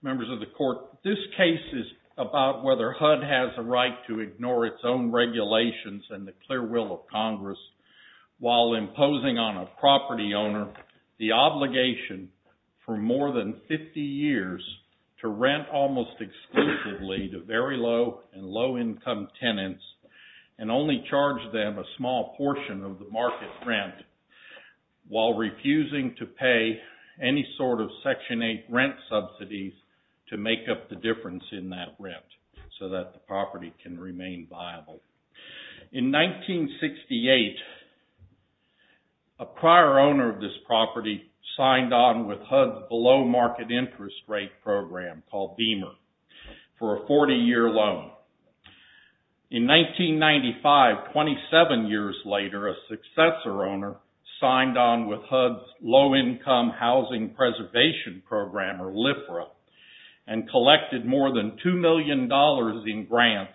Members of the Court, this case is about whether HUD has a right to ignore its own regulations and the clear will of Congress while imposing on a property owner the obligation for more than 50 years to rent almost exclusively to very low and low income tenants and only charge them a small portion of the market rent while refusing to pay any sort of Section 8 rent subsidies to make up the difference in that rent so that the property can remain viable. In 1968, a prior owner of this property signed on with HUD's below market interest rate program called Beamer for a 40-year loan. In 1995, 27 years later, a successor owner signed on with HUD's low-income housing preservation program, or LIFRA, and collected more than $2 million in grants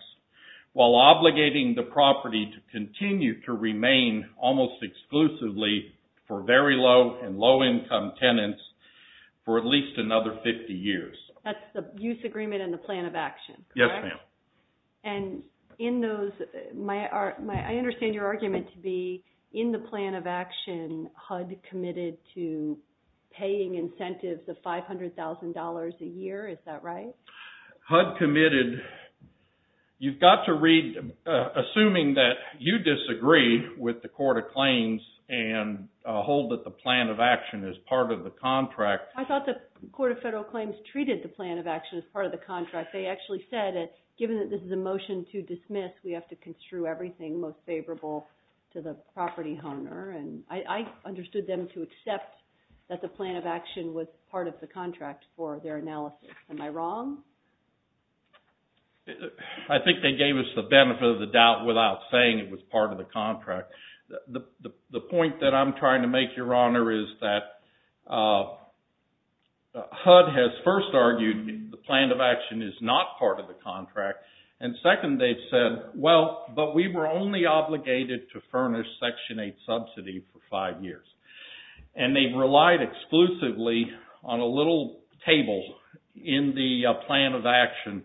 while obligating the property to continue to remain almost exclusively for very low and low income tenants for at least another 50 years. That's the use agreement and the plan of action, correct? Yes, ma'am. And in those, I understand your argument to be in the plan of action, HUD committed to paying incentives of $500,000 a year, is that right? HUD committed, you've got to read, assuming that you disagree with the Court of Claims and hold that the plan of action is part of the contract. I thought the Court of Federal Claims treated the plan of action as part of the contract. They actually said that given that this is a motion to dismiss, we have to construe everything most favorable to the property owner. And I understood them to accept that the plan of action was part of the contract for their analysis. Am I wrong? I think they gave us the benefit of the doubt without saying it was part of the contract. The point that I'm trying to make, Your Honor, is that HUD has first argued the plan of action is not part of the contract. And second, they've said, well, but we were only obligated to furnish Section 8 subsidy for five years. And they've relied exclusively on a little table in the plan of action.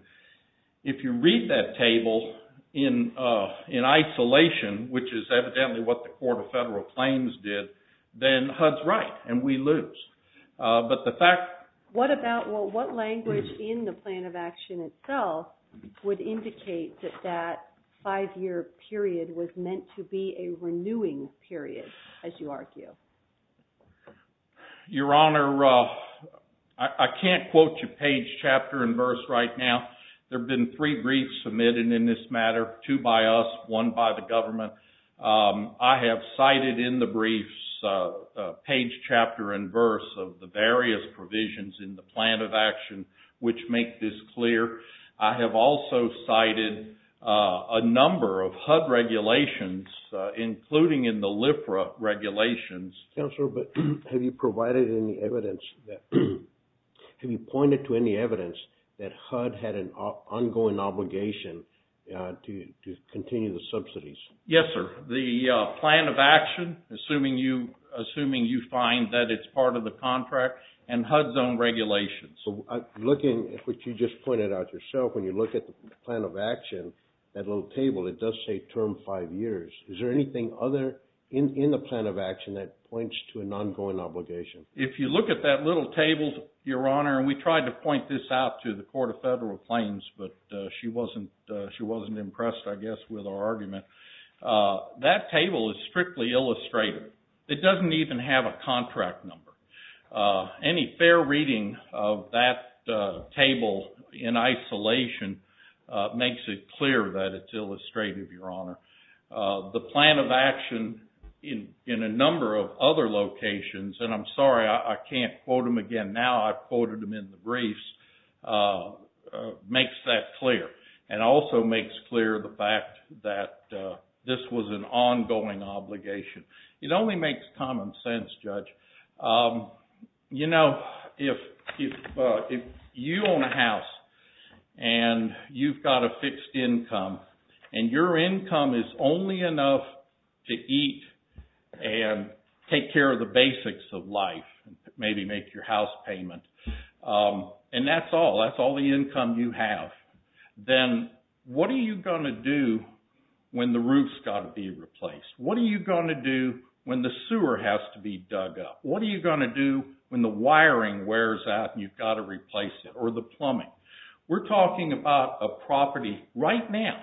If you read that table in isolation, which is evidently what the Court of Federal Claims did, then HUD's right and we lose. But the fact... What about, well, what language in the plan of action itself would indicate that that five-year period was meant to be a renewing period, as you argue? Your Honor, I can't quote you page, chapter, and verse right now. There have been three briefs submitted in this matter, two by us, one by the government. I have cited in the briefs page, chapter, and verse of the various provisions in the plan of action which make this clear. I have also cited a number of HUD regulations, including in the LIFRA regulations. Counselor, but have you provided any evidence that... Have you pointed to any evidence that HUD had an ongoing obligation to continue the subsidies? Yes, sir. The plan of action, assuming you find that it's part of the contract, and HUD's own regulations. Looking at what you just pointed out yourself, when you look at the plan of action, that little table, it does say term five years. Is there anything other in the plan of action that points to an ongoing obligation? If you look at that little table, Your Honor, and we tried to point this out to the Court of Federal Claims, but she wasn't impressed, I guess, with our argument. That table is strictly illustrative. It doesn't even have a contract number. Any fair reading of that table in isolation makes it clear that it's illustrative, Your Honor. The plan of action in a number of other locations, and I'm sorry, I can't quote them again now. I've quoted them in the briefs, makes that clear, and also makes clear the fact that this was an ongoing obligation. It only makes common sense, Judge. You know, if you own a house, and you've got a fixed income, and your income is only enough to eat and take care of the basics of life, maybe make your house payment, and that's all. That's all the income you have. Then what are you going to do when the roof's got to be replaced? What are you going to do when the sewer has to be dug up? What are you going to do when the wiring wears out and you've got to replace it? Or the plumbing? We're talking about a property right now.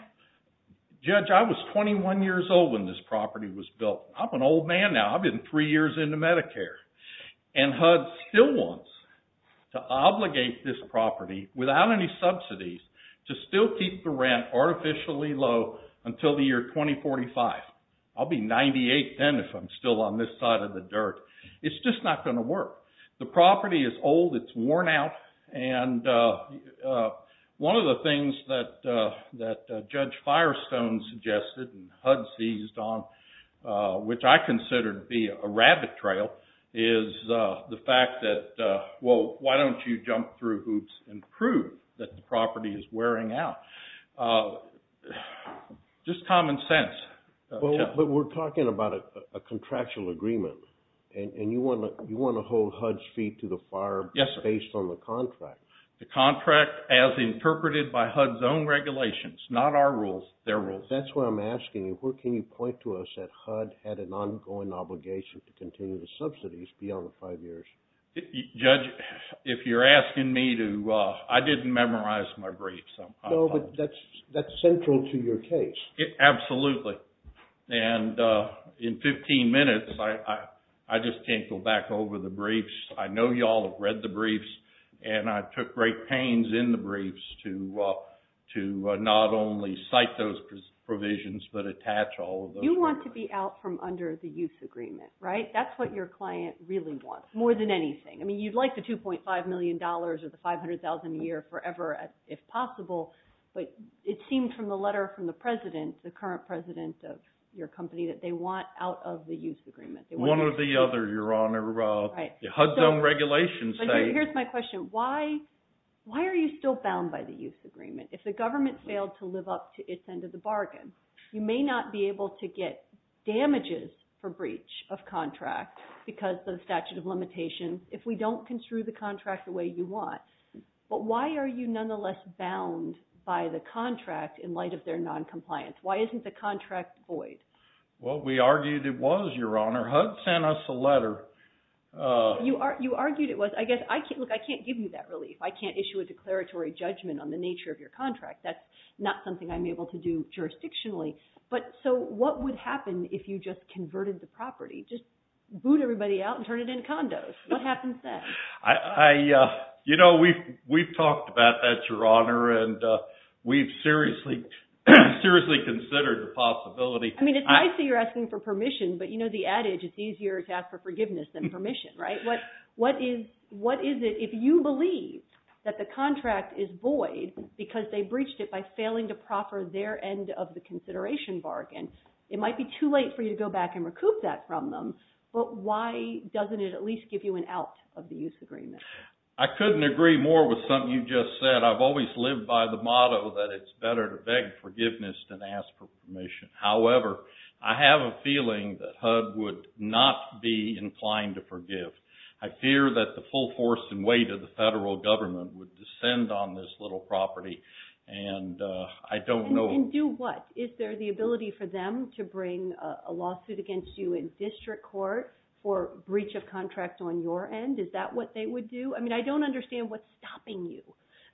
Judge, I was 21 years old when this property was built. I'm an old man now. I've been three years into Medicare. And HUD still wants to obligate this property, without any subsidies, to still keep the rent artificially low until the year 2045. I'll be 98 then if I'm still on this side of the dirt. It's just not going to work. The property is old. It's worn out. And one of the things that Judge Firestone suggested, and HUD seized on, which I consider to be a rabbit trail, is the fact that, well, why don't you jump through hoops and prove that the property is wearing out? Just common sense. But we're talking about a contractual agreement. And you want to hold HUD's feet to the fire based on the contract. The contract, as interpreted by HUD's own regulations, not our rules, their rules. That's what I'm asking you. Where can you point to us that HUD had an ongoing obligation to continue the subsidies beyond the five years? Judge, if you're asking me to, I didn't memorize my briefs. No, but that's central to your case. Absolutely. And in 15 minutes, I just can't go back over the briefs. I know you all have read the briefs. And I took great pains in the briefs to not only cite those provisions, but attach all of those. You want to be out from under the use agreement, right? That's what your client really wants, more than anything. You'd like the $2.5 million or the $500,000 a year forever, if possible. But it seemed from the letter from the president, the current president of your company, that they want out of the use agreement. One or the other, Your Honor. HUD's own regulations say— Here's my question. Why are you still bound by the use agreement? If the government failed to live up to its end of the bargain, you may not be able to get damages for breach of contract because of the statute of limitations. If we don't construe the contract the way you want, but why are you nonetheless bound by the contract in light of their noncompliance? Why isn't the contract void? Well, we argued it was, Your Honor. HUD sent us a letter. You argued it was. I guess, look, I can't give you that relief. I can't issue a declaratory judgment on the nature of your contract. That's not something I'm able to do jurisdictionally. But so what would happen if you just converted the property? Just boot everybody out and turn it into condos. What happens then? You know, we've talked about that, Your Honor, and we've seriously considered the possibility. I mean, it's nice that you're asking for permission, but you know the adage, it's easier to ask for forgiveness than permission, right? What is it if you believe that the contract is void because they breached it by failing to proffer their end of the consideration bargain? It might be too late for you to go back and recoup that from them, but why doesn't it at least give you an out of the use agreement? I couldn't agree more with something you just said. I've always lived by the motto that it's better to beg forgiveness than ask for permission. However, I have a feeling that HUD would not be inclined to forgive. I fear that the full force and weight of the federal government would descend on this little property, and I don't know... And do what? Is there the ability for them to bring a lawsuit against you in district court for breach of contract on your end? Is that what they would do? I mean, I don't understand what's stopping you.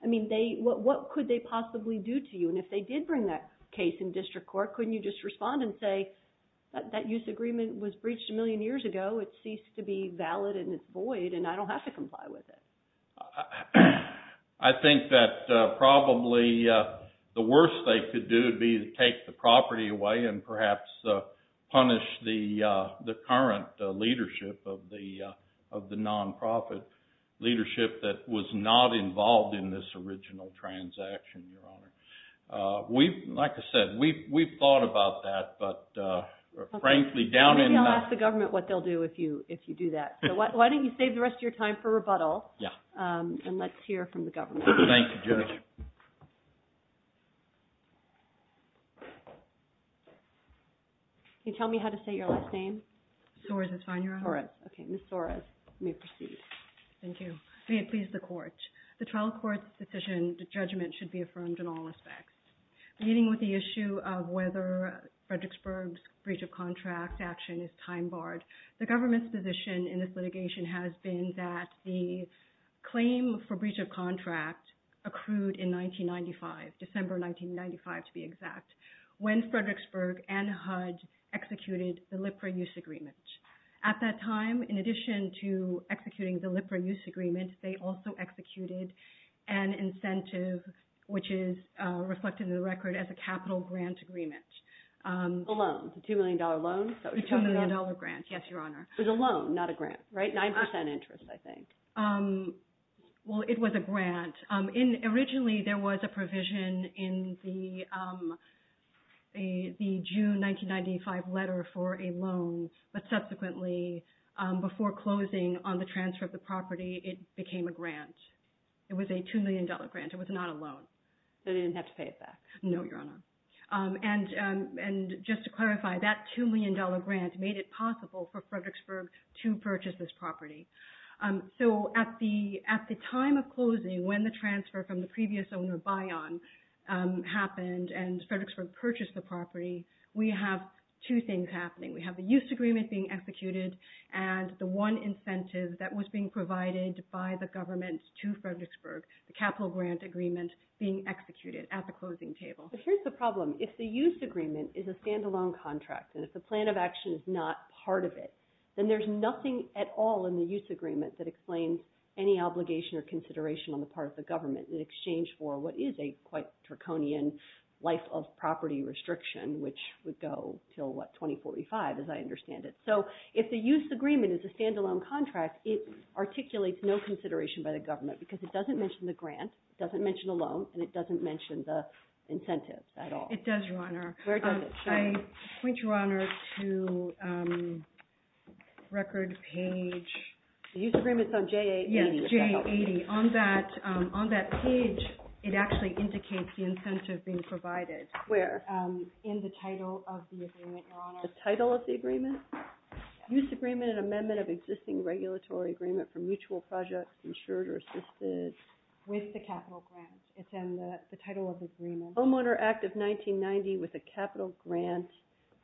I mean, what could they possibly do to you? And if they did bring that case in district court, couldn't you just respond and say, that use agreement was breached a million years ago. It ceased to be valid and it's void, and I don't have to comply with it. I think that probably the worst they could do would be to take the property away and perhaps punish the current leadership of the non-profit leadership that was not involved in this original transaction, Your Honor. Like I said, we've thought about that, but frankly, down in the... Maybe I'll ask the government what they'll do if you do that. So why don't you save the rest of your time for rebuttal. And let's hear from the government. Thank you, Judge. Can you tell me how to say your last name? Soros, that's fine, Your Honor. Soros. Okay, Ms. Soros, you may proceed. Thank you. May it please the court. The trial court's decision to judgment should be affirmed in all respects. Beginning with the issue of whether Fredericksburg's breach of contract action is time barred, the government's position in this litigation has been that the claim for breach of contract accrued in 1995, December 1995 to be exact, when Fredericksburg and HUD executed the Lipra Use Agreement. At that time, in addition to executing the Lipra Use Agreement, they also executed an incentive which is reflected in the record as a capital grant agreement. A loan, a $2 million loan. A $2 million grant, yes, Your Honor. 9% interest, I think. Well, it was a grant. Originally, there was a provision in the June 1995 letter for a loan, but subsequently, before closing on the transfer of the property, it became a grant. It was a $2 million grant. It was not a loan. They didn't have to pay it back? No, Your Honor. And just to clarify, that $2 million grant made it possible for Fredericksburg to purchase this property. So at the time of closing, when the transfer from the previous owner, Bayan, happened and Fredericksburg purchased the property, we have two things happening. We have the Use Agreement being executed and the one incentive that was being provided by the government to Fredericksburg, the capital grant agreement, being executed at the closing table. But here's the problem. If the Use Agreement is a standalone contract and if the plan of action is not part of it, then there's nothing at all in the Use Agreement that explains any obligation or consideration on the part of the government in exchange for what is a quite draconian life of property restriction, which would go till, what, 2045, as I understand it. So if the Use Agreement is a standalone contract, it articulates no consideration by the government because it doesn't mention the grant, it doesn't mention a loan, and it doesn't mention the incentives at all. It does, Your Honor. Where does it say? I point, Your Honor, to record page... The Use Agreement's on J80. Yes, J80. On that page, it actually indicates the incentive being provided. Where? In the title of the agreement, Your Honor. The title of the agreement? Use Agreement, an amendment of existing regulatory agreement for mutual projects insured or assisted. With the capital grant. It's in the title of the agreement. Homeowner Act of 1990 with a capital grant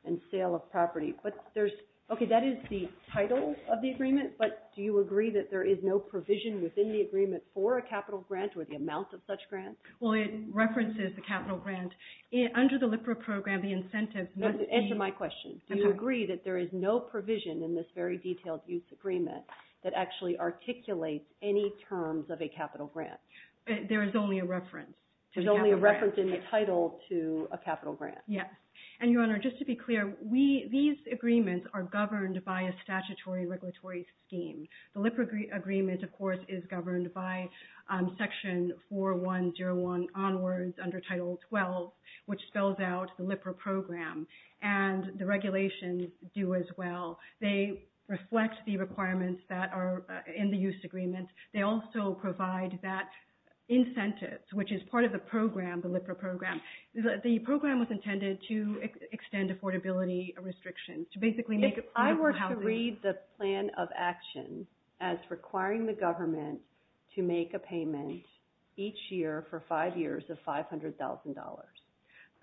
and sale of property. But there's... Okay, that is the title of the agreement, but do you agree that there is no provision within the agreement for a capital grant or the amount of such grant? Well, it references the capital grant. Under the LIPRA program, the incentives must be... Answer my question. Do you agree that there is no provision in this very detailed Use Agreement that actually articulates any terms of a capital grant? There is only a reference. There's only a reference in the title to a capital grant. Yes. And Your Honor, just to be clear, these agreements are governed by a statutory regulatory scheme. The LIPRA agreement, of course, is governed by Section 4101 onwards under Title 12, which spells out the LIPRA program. And the regulations do as well. They reflect the requirements that are in the Use Agreement. They also provide that incentive, which is part of the program, the LIPRA program. The program was intended to extend affordability restrictions to basically make it... I were to read the plan of action as requiring the government to make a payment each year for five years of $500,000.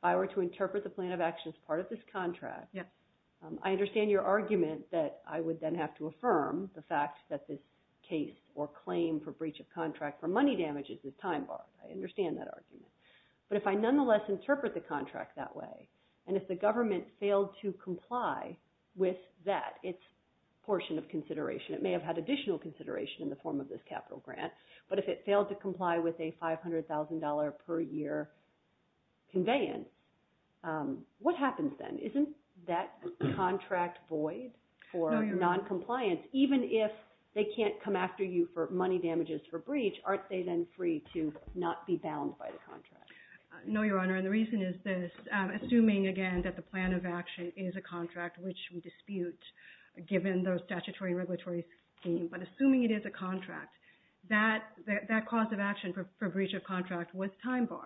I were to interpret the plan of action as part of this contract. I understand your argument that I would then have to affirm the fact that this case or claim for breach of contract for money damages is time-barred. I understand that argument. But if I nonetheless interpret the contract that way, and if the government failed to comply with that, its portion of consideration, it may have had additional consideration in the form of this capital grant, but if it failed to comply with a $500,000 per year conveyance, what happens then? for noncompliance? Even if they can't come after you for money damages for breach, aren't they then free to not be bound by the contract? No, Your Honor. And the reason is this. Assuming, again, that the plan of action is a contract which we dispute given the statutory regulatory scheme, but assuming it is a contract, that cause of action for breach of contract was time-barred.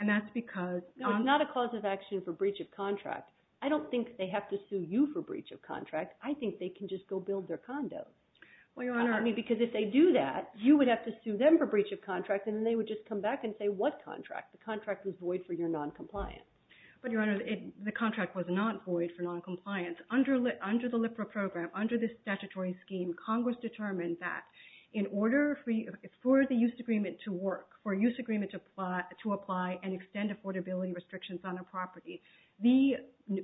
And that's because... No, it's not a cause of action for breach of contract. I don't think they have to sue you for breach of contract. I think they can just go build their condo. Well, Your Honor... I mean, because if they do that, you would have to sue them for breach of contract, and then they would just come back and say, what contract? The contract was void for your noncompliance. But, Your Honor, the contract was not void for noncompliance. Under the LIPRA program, under this statutory scheme, Congress determined that in order for the use agreement to work, for use agreement to apply and extend affordability restrictions on a property, the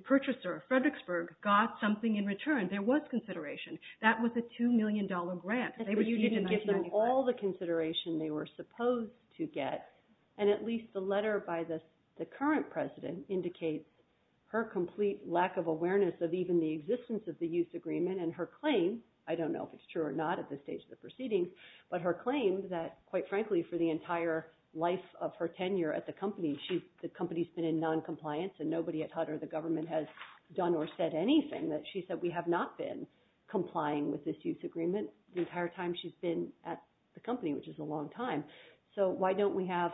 purchaser, Fredericksburg, got something in return. There was consideration. That was a $2 million grant. You didn't give them all the consideration they were supposed to get, and at least the letter by the current president indicates her complete lack of awareness of even the existence of the use agreement, and her claim, I don't know if it's true or not at this stage of the proceedings, but her claim that, quite frankly, for the entire life of her tenure at the company, the company's been in noncompliance and nobody at HUD or the government has done or said anything that she said, we have not been complying with this use agreement the entire time she's been at the company, which is a long time. So why don't we have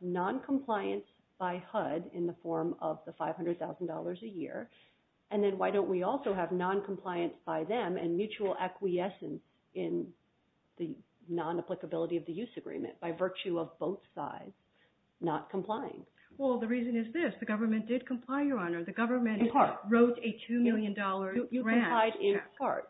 noncompliance by HUD in the form of the $500,000 a year, and then why don't we also have noncompliance by them and mutual acquiescence in the non-applicability of the use agreement by virtue of both sides not complying? Well, the reason is this. The government did comply, Your Honor. The government wrote a $2 million grant. You complied in part.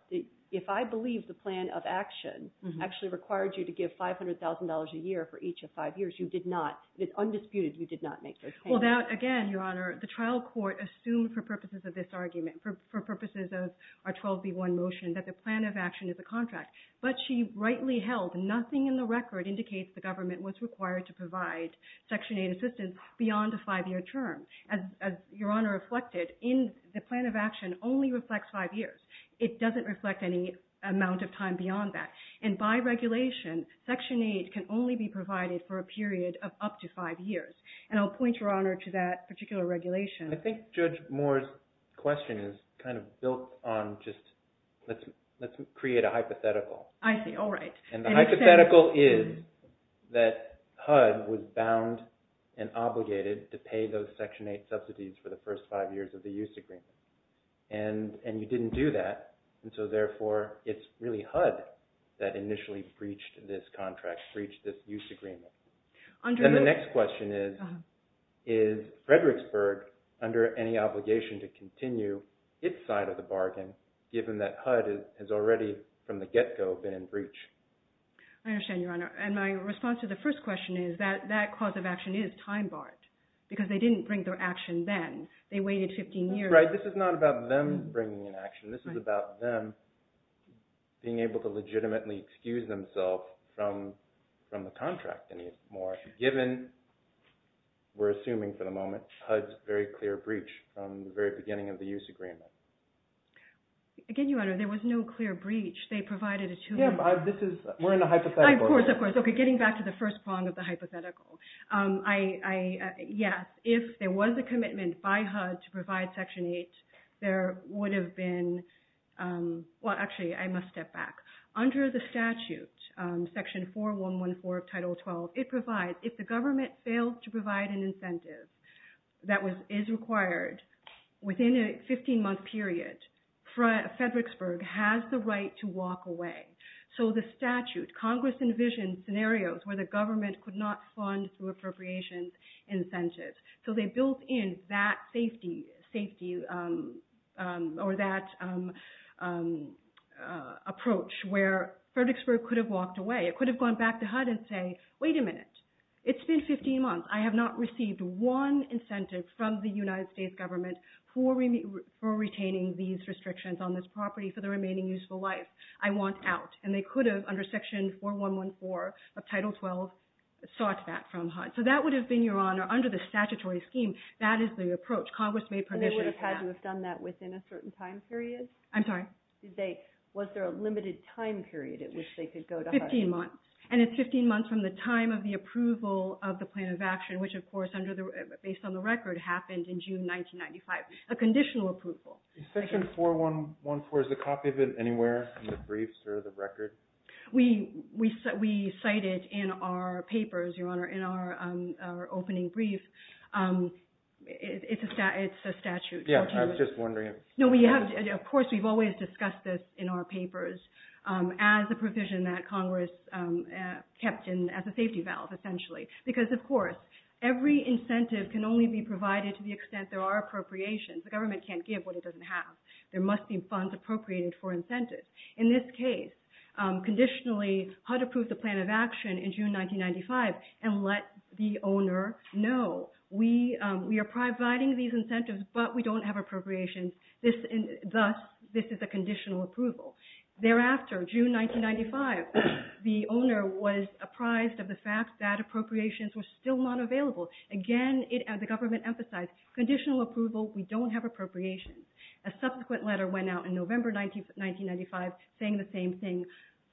If I believe the plan of action actually required you to give $500,000 a year for each of five years, you did not. It's undisputed. You did not make those payments. Well, again, Your Honor, the trial court assumed for purposes of this argument, for purposes of our 12B1 motion, that the plan of action is a contract, but she rightly held nothing in the record indicates the government was required to provide Section 8 assistance beyond a five-year term. As Your Honor reflected, the plan of action only reflects five years. It doesn't reflect any amount of time beyond that. And by regulation, Section 8 can only be provided for a period of up to five years. And I'll point, Your Honor, to that particular regulation. I think Judge Moore's question is kind of built on just, let's create a hypothetical. I see. All right. And the hypothetical is that HUD was bound and obligated to pay those Section 8 subsidies for the first five years of the use agreement. And you didn't do that. And so, therefore, it's really HUD that initially breached this contract, breached this use agreement. And the next question is, is Fredericksburg under any obligation to continue its side of the bargain given that HUD has already, from the get-go, been in breach? I understand, Your Honor. And my response to the first question is that that cause of action is time-barred because they didn't bring their action then. They waited 15 years. This is not about them bringing an action. This is about them being able to legitimately excuse themselves from the contract anymore given, we're assuming for the moment, HUD's very clear breach from the very beginning of the use agreement. Again, Your Honor, there was no clear breach. They provided a two-year... Yeah, but this is... We're in the hypothetical. Of course, of course. Okay, getting back to the first prong of the hypothetical. Yes, if there was a commitment by HUD to provide Section 8, there would have been... Well, actually, I must step back. Under the statute, Section 4114 of Title 12, it provides, if the government fails to provide an incentive that is required within a 15-month period, Fredericksburg has the right to walk away. So the statute, Congress envisioned scenarios where the government could not fund through appropriations incentives. So they built in that safety, or that approach where Fredericksburg could have walked away. It could have gone back to HUD and say, wait a minute. It's been 15 months. I have not received one incentive from the United States government for retaining these restrictions on this property for the remaining useful life. I want out. under Section 4114 of Title 12, sought that from HUD. So that would have been, Your Honor, under the statutory scheme, that is the approach Congress made permission. They would have had to have done that within a certain time period? I'm sorry? Did they, was there a limited time period at which they could go to HUD? 15 months. And it's 15 months from the time of the approval of the plan of action, which, of course, based on the record, happened in June 1995, Is Section 4114, is a copy of it anywhere in the briefs or the record? We cite it in our papers, Your Honor, in our opening brief. It's a statute. Yeah, I was just wondering. No, we have, of course, we've always discussed this in our papers as a provision that Congress kept in as a safety valve, essentially. Because, of course, every incentive can only be provided to the extent there are appropriations. The government can't give what it doesn't have. There must be funds appropriated for incentives. In this case, conditionally, HUD approved the plan of action in June 1995 and let the owner know, we are providing these incentives, but we don't have appropriations. Thus, this is a conditional approval. Thereafter, June 1995, the owner was apprised of the fact that appropriations were still not available. Again, the government emphasized conditional approval. We don't have appropriations. A subsequent letter went out in November 1995 saying the same thing.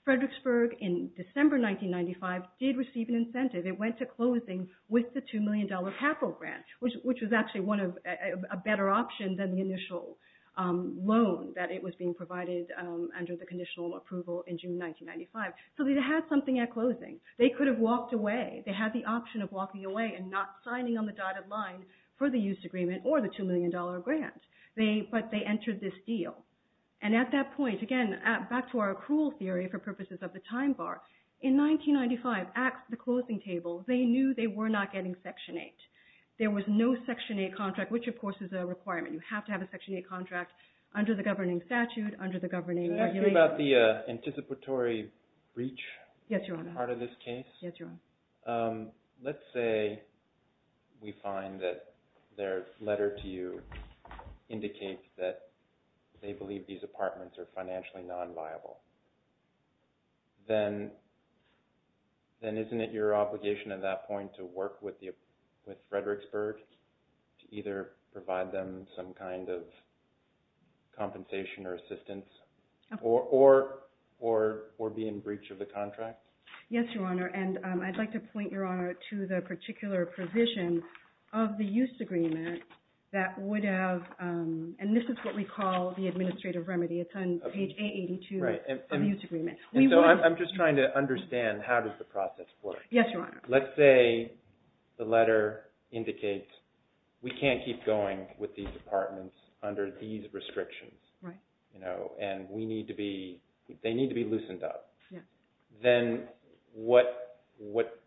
Fredericksburg in December 1995 did receive an incentive. It went to closing with the $2 million capital grant, which was actually a better option than the initial loan that was being provided under the conditional approval in June 1995. So they had something at closing. They could have walked away. They had the option of walking away and not signing on the dotted line for the use agreement or the $2 million grant. But they entered this deal. And at that point, again, back to our accrual theory for purposes of the time bar, in 1995, at the closing table, they knew they were not getting Section 8. There was no Section 8 contract, which, of course, is a requirement. You have to have a Section 8 contract under the governing statute, under the governing regulations. Can I ask you about the anticipatory breach? Yes, Your Honor. Part of this case. Yes, Your Honor. Let's say we find that their letter to you indicates that they believe these apartments are financially non-viable. Then isn't it your obligation at that point to work with Fredericksburg to either provide them some kind of compensation or assistance, or be in breach of the contract? Yes, Your Honor. And I'd like to point, Your Honor, to the particular provision of the use agreement that would have, and this is what we call the administrative remedy. It's on page 882. Right. And so I'm just trying to understand how does the process work? Yes, Your Honor. Let's say the letter indicates we can't keep going with these apartments under these restrictions. Right. And we need to be, they need to be loosened up. Then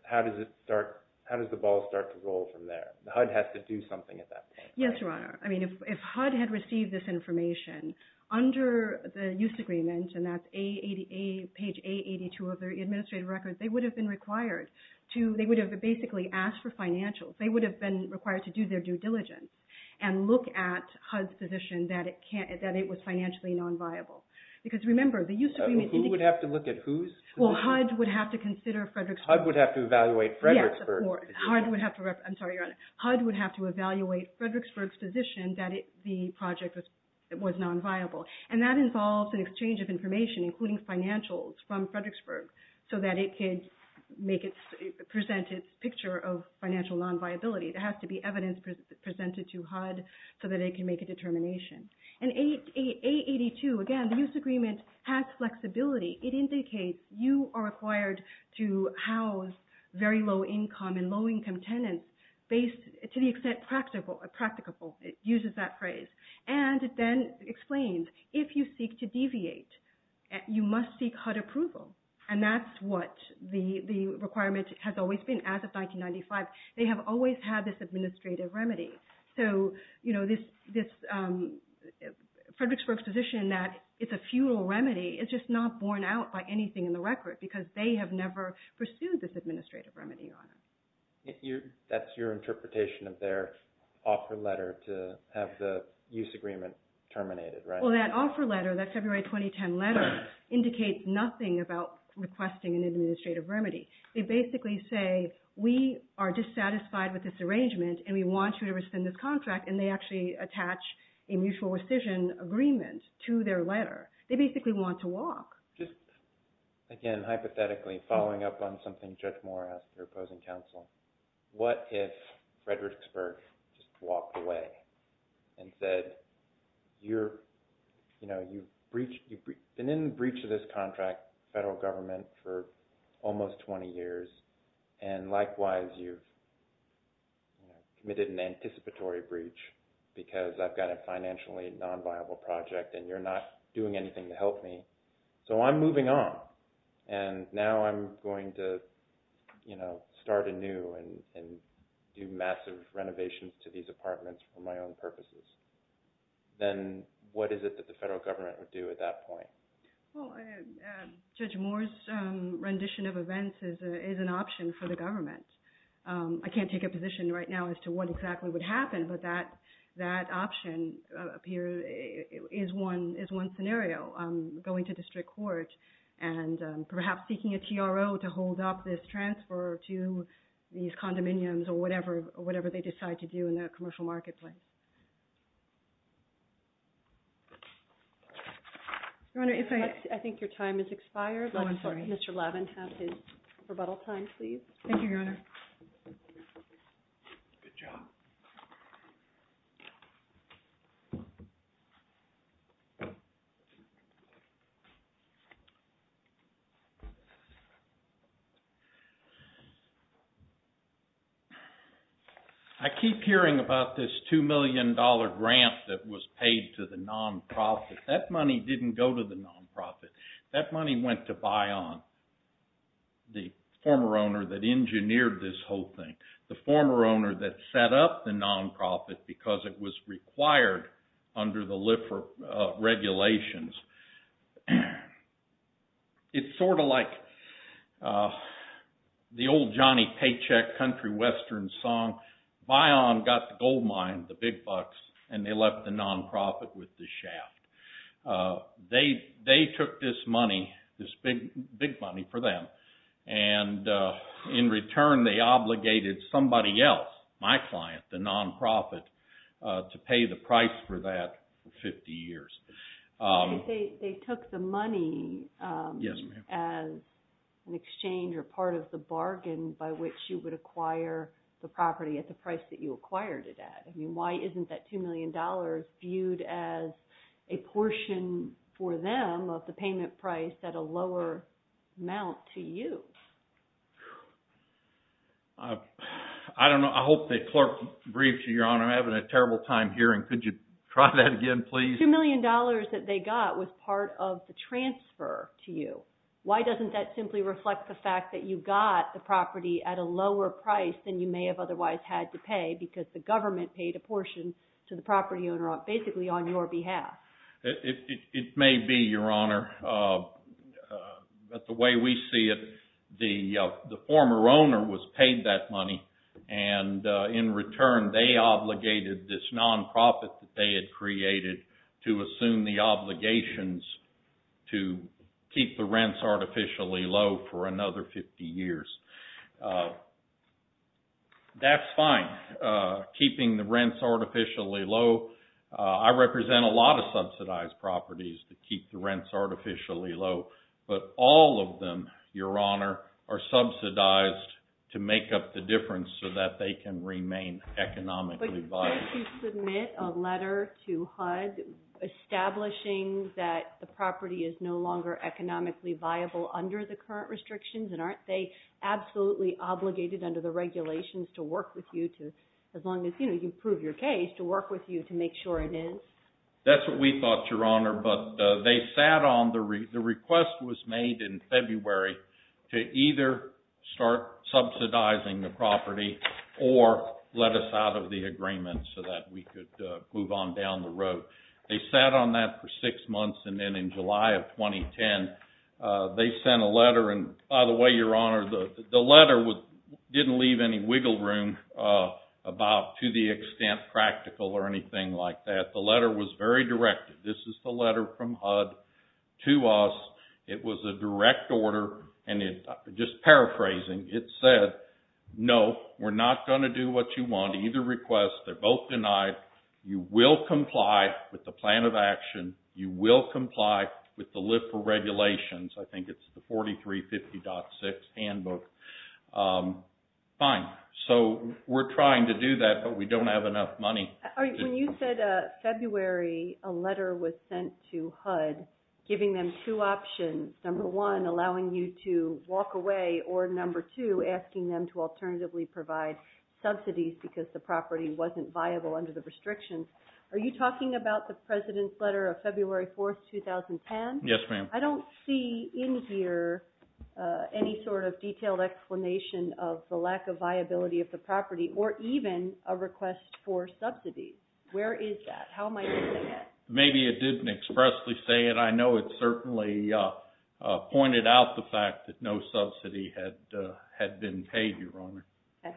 how does it start, how does the ball start to roll from there? The HUD has to do something at that point. Yes, Your Honor. I mean, if HUD had received this information under the use agreement, and that's page 882 of their administrative records, they would have been required to, they would have basically asked for financials. They would have been required to do their due diligence and look at HUD's position that it was financially non-viable. Because remember, the use agreement indicates... Who would have to look at whose position? Well, HUD would have to consider Fredericksburg's position. HUD would have to evaluate Fredericksburg's position. HUD would have to, I'm sorry, Your Honor, HUD would have to evaluate Fredericksburg's position that the project was non-viable. And that involves an exchange of information, including financials from Fredericksburg, so that it can make it, present its picture of financial non-viability. There has to be evidence presented to HUD so that it can make a determination. And 882, again, the use agreement has flexibility. It indicates you are required to house very low income and low income tenants based, to the extent practicable, it uses that phrase. And then it explains if you seek to deviate, you must seek HUD approval. And that's what the requirement has always been as of 1995. They have always had this administrative remedy. So, you know, this Fredericksburg's position that it's a futile remedy is just not borne out by anything in the record because they have never pursued this administrative remedy, Your Honor. That's your interpretation of their offer letter to have the use agreement terminated, right? Well, that offer letter, that February 2010 letter, indicates nothing about requesting an administrative remedy. They basically say, we are dissatisfied with this arrangement and we want you to rescind this contract. And they actually attach a mutual rescission agreement to their letter. They basically want to walk. Just, again, hypothetically, following up on something Judge Moore asked her opposing counsel, what if Fredericksburg just walked away and said, you're, you know, you've been in breach of this contract, federal government, for almost 20 years. And likewise, you've committed an anticipatory breach because I've got a financially non-viable project and you're not doing anything to help me. So I'm moving on. And now I'm going to, you know, start anew and do massive renovations to these apartments for my own purposes. Then what is it that the federal government would do at that point? Well, Judge Moore's rendition of events is an option for the government. I can't take a position right now as to what exactly would happen, but that option up here is one scenario. I'm going to district court and perhaps seeking a TRO to hold up this transfer to these condominiums or whatever they decide to do in the commercial marketplace. Your Honor, if I— I think your time has expired. Oh, I'm sorry. Mr. Lavin, have his rebuttal time, please. Thank you, Your Honor. Good job. I keep hearing about this $2 million grant that was paid to the non-profit. That money didn't go to the non-profit. That money went to Bion, the former owner that engineered this whole thing, the former owner that set up the non-profit because it was required under the LIFR regulations. It's sort of like the old Johnny Paycheck country western song. Bion got the gold mine, the big bucks, and they left the non-profit with the shaft. They took this money, this big money for them, and in return, they obligated somebody else, my client, the non-profit, to pay the price for that for 50 years. They took the money as an exchange or part of the bargain by which you would acquire the property at the price that you acquired it at. Why isn't that $2 million viewed as a portion for them of the payment price at a lower amount to you? I don't know. I hope the clerk briefs you, Your Honor. I'm having a terrible time hearing. Could you try that again, please? $2 million that they got was part of the transfer to you. Why doesn't that simply reflect the fact that you got the property at a lower price than you may have otherwise had to pay because the government paid a portion to the property owner basically on your behalf? It may be, Your Honor, but the way we see it, the former owner was paid that money and in return, they obligated this non-profit that they had created to assume the obligations to keep the rents artificially low for another 50 years. That's fine. Keeping the rents artificially low. I represent a lot of subsidized properties that keep the rents artificially low, but all of them, Your Honor, are subsidized to make up the difference so that they can remain economically viable. But you said you submit a letter to HUD establishing that the property is no longer economically viable under the current restrictions and aren't they absolutely obligated under the regulations to work with you as long as you prove your case to work with you to make sure it is? That's what we thought, Your Honor, but the request was made in February to either start subsidizing the property or let us out of the agreement so that we could move on down the road. They sat on that for six months and then in July of 2010, they sent a letter and by the way, Your Honor, the letter didn't leave any wiggle room about to the extent practical or anything like that. The letter was very direct. This is the letter from HUD to us. It was a direct order and just paraphrasing, it said, no, we're not going to do what you want. Either request, they're both denied. You will comply with the plan of action. You will comply with the LIFRA regulations. I think it's the 4350.6 handbook. Fine, so we're trying to do that, but we don't have enough money. When you said February, a letter was sent to HUD giving them two options. Number one, allowing you to walk away or number two, asking them to alternatively provide subsidies because the property wasn't viable under the restrictions. Are you talking about the president's letter of February 4th, 2010? Yes, ma'am. I don't see in here any sort of detailed explanation of the lack of viability of the property or even a request for subsidies. Where is that? How am I doing that? Maybe it didn't expressly say it. I know it certainly pointed out the fact that no subsidy had been paid, Your Honor. Okay,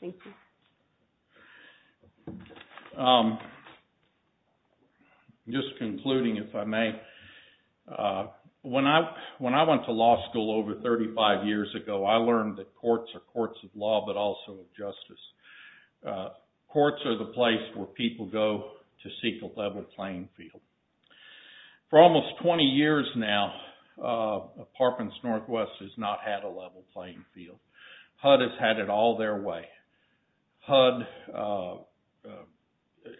thank you. Just concluding, if I may. When I went to law school over 35 years ago, I learned that courts are courts of law, but also of justice. Courts are the place where people go to seek a level playing field. For almost 20 years now, Parkins Northwest has not had a level playing field. HUD has had it all their way. HUD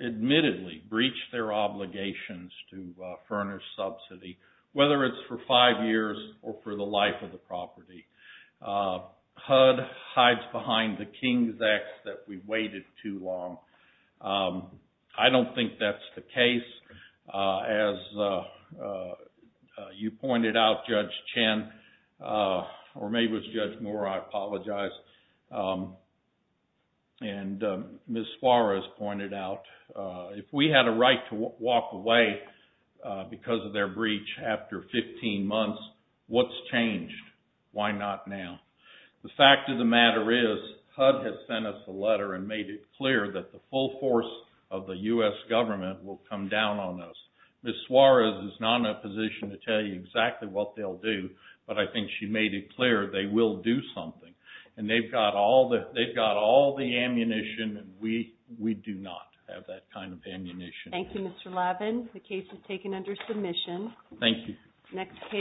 admittedly breached their obligations to furnish subsidy, whether it's for five years or for the life of the property. HUD hides behind the king's ax that we waited too long. I don't think that's the case. As you pointed out, Judge Chen, or maybe it was Judge Moore, I apologize, and Ms. Suarez pointed out, if we had a right to walk away because of their breach after 15 months, what's changed? Why not now? The fact of the matter is, HUD has sent us a letter and made it clear that the full force of the U.S. government will come down on us. Ms. Suarez is not in a position to tell you exactly what they'll do, but I think she made it clear they will do something. They've got all the ammunition, and we do not have that kind of ammunition. Thank you, Mr. Lavin. The case is taken under submission. Thank you. Next case.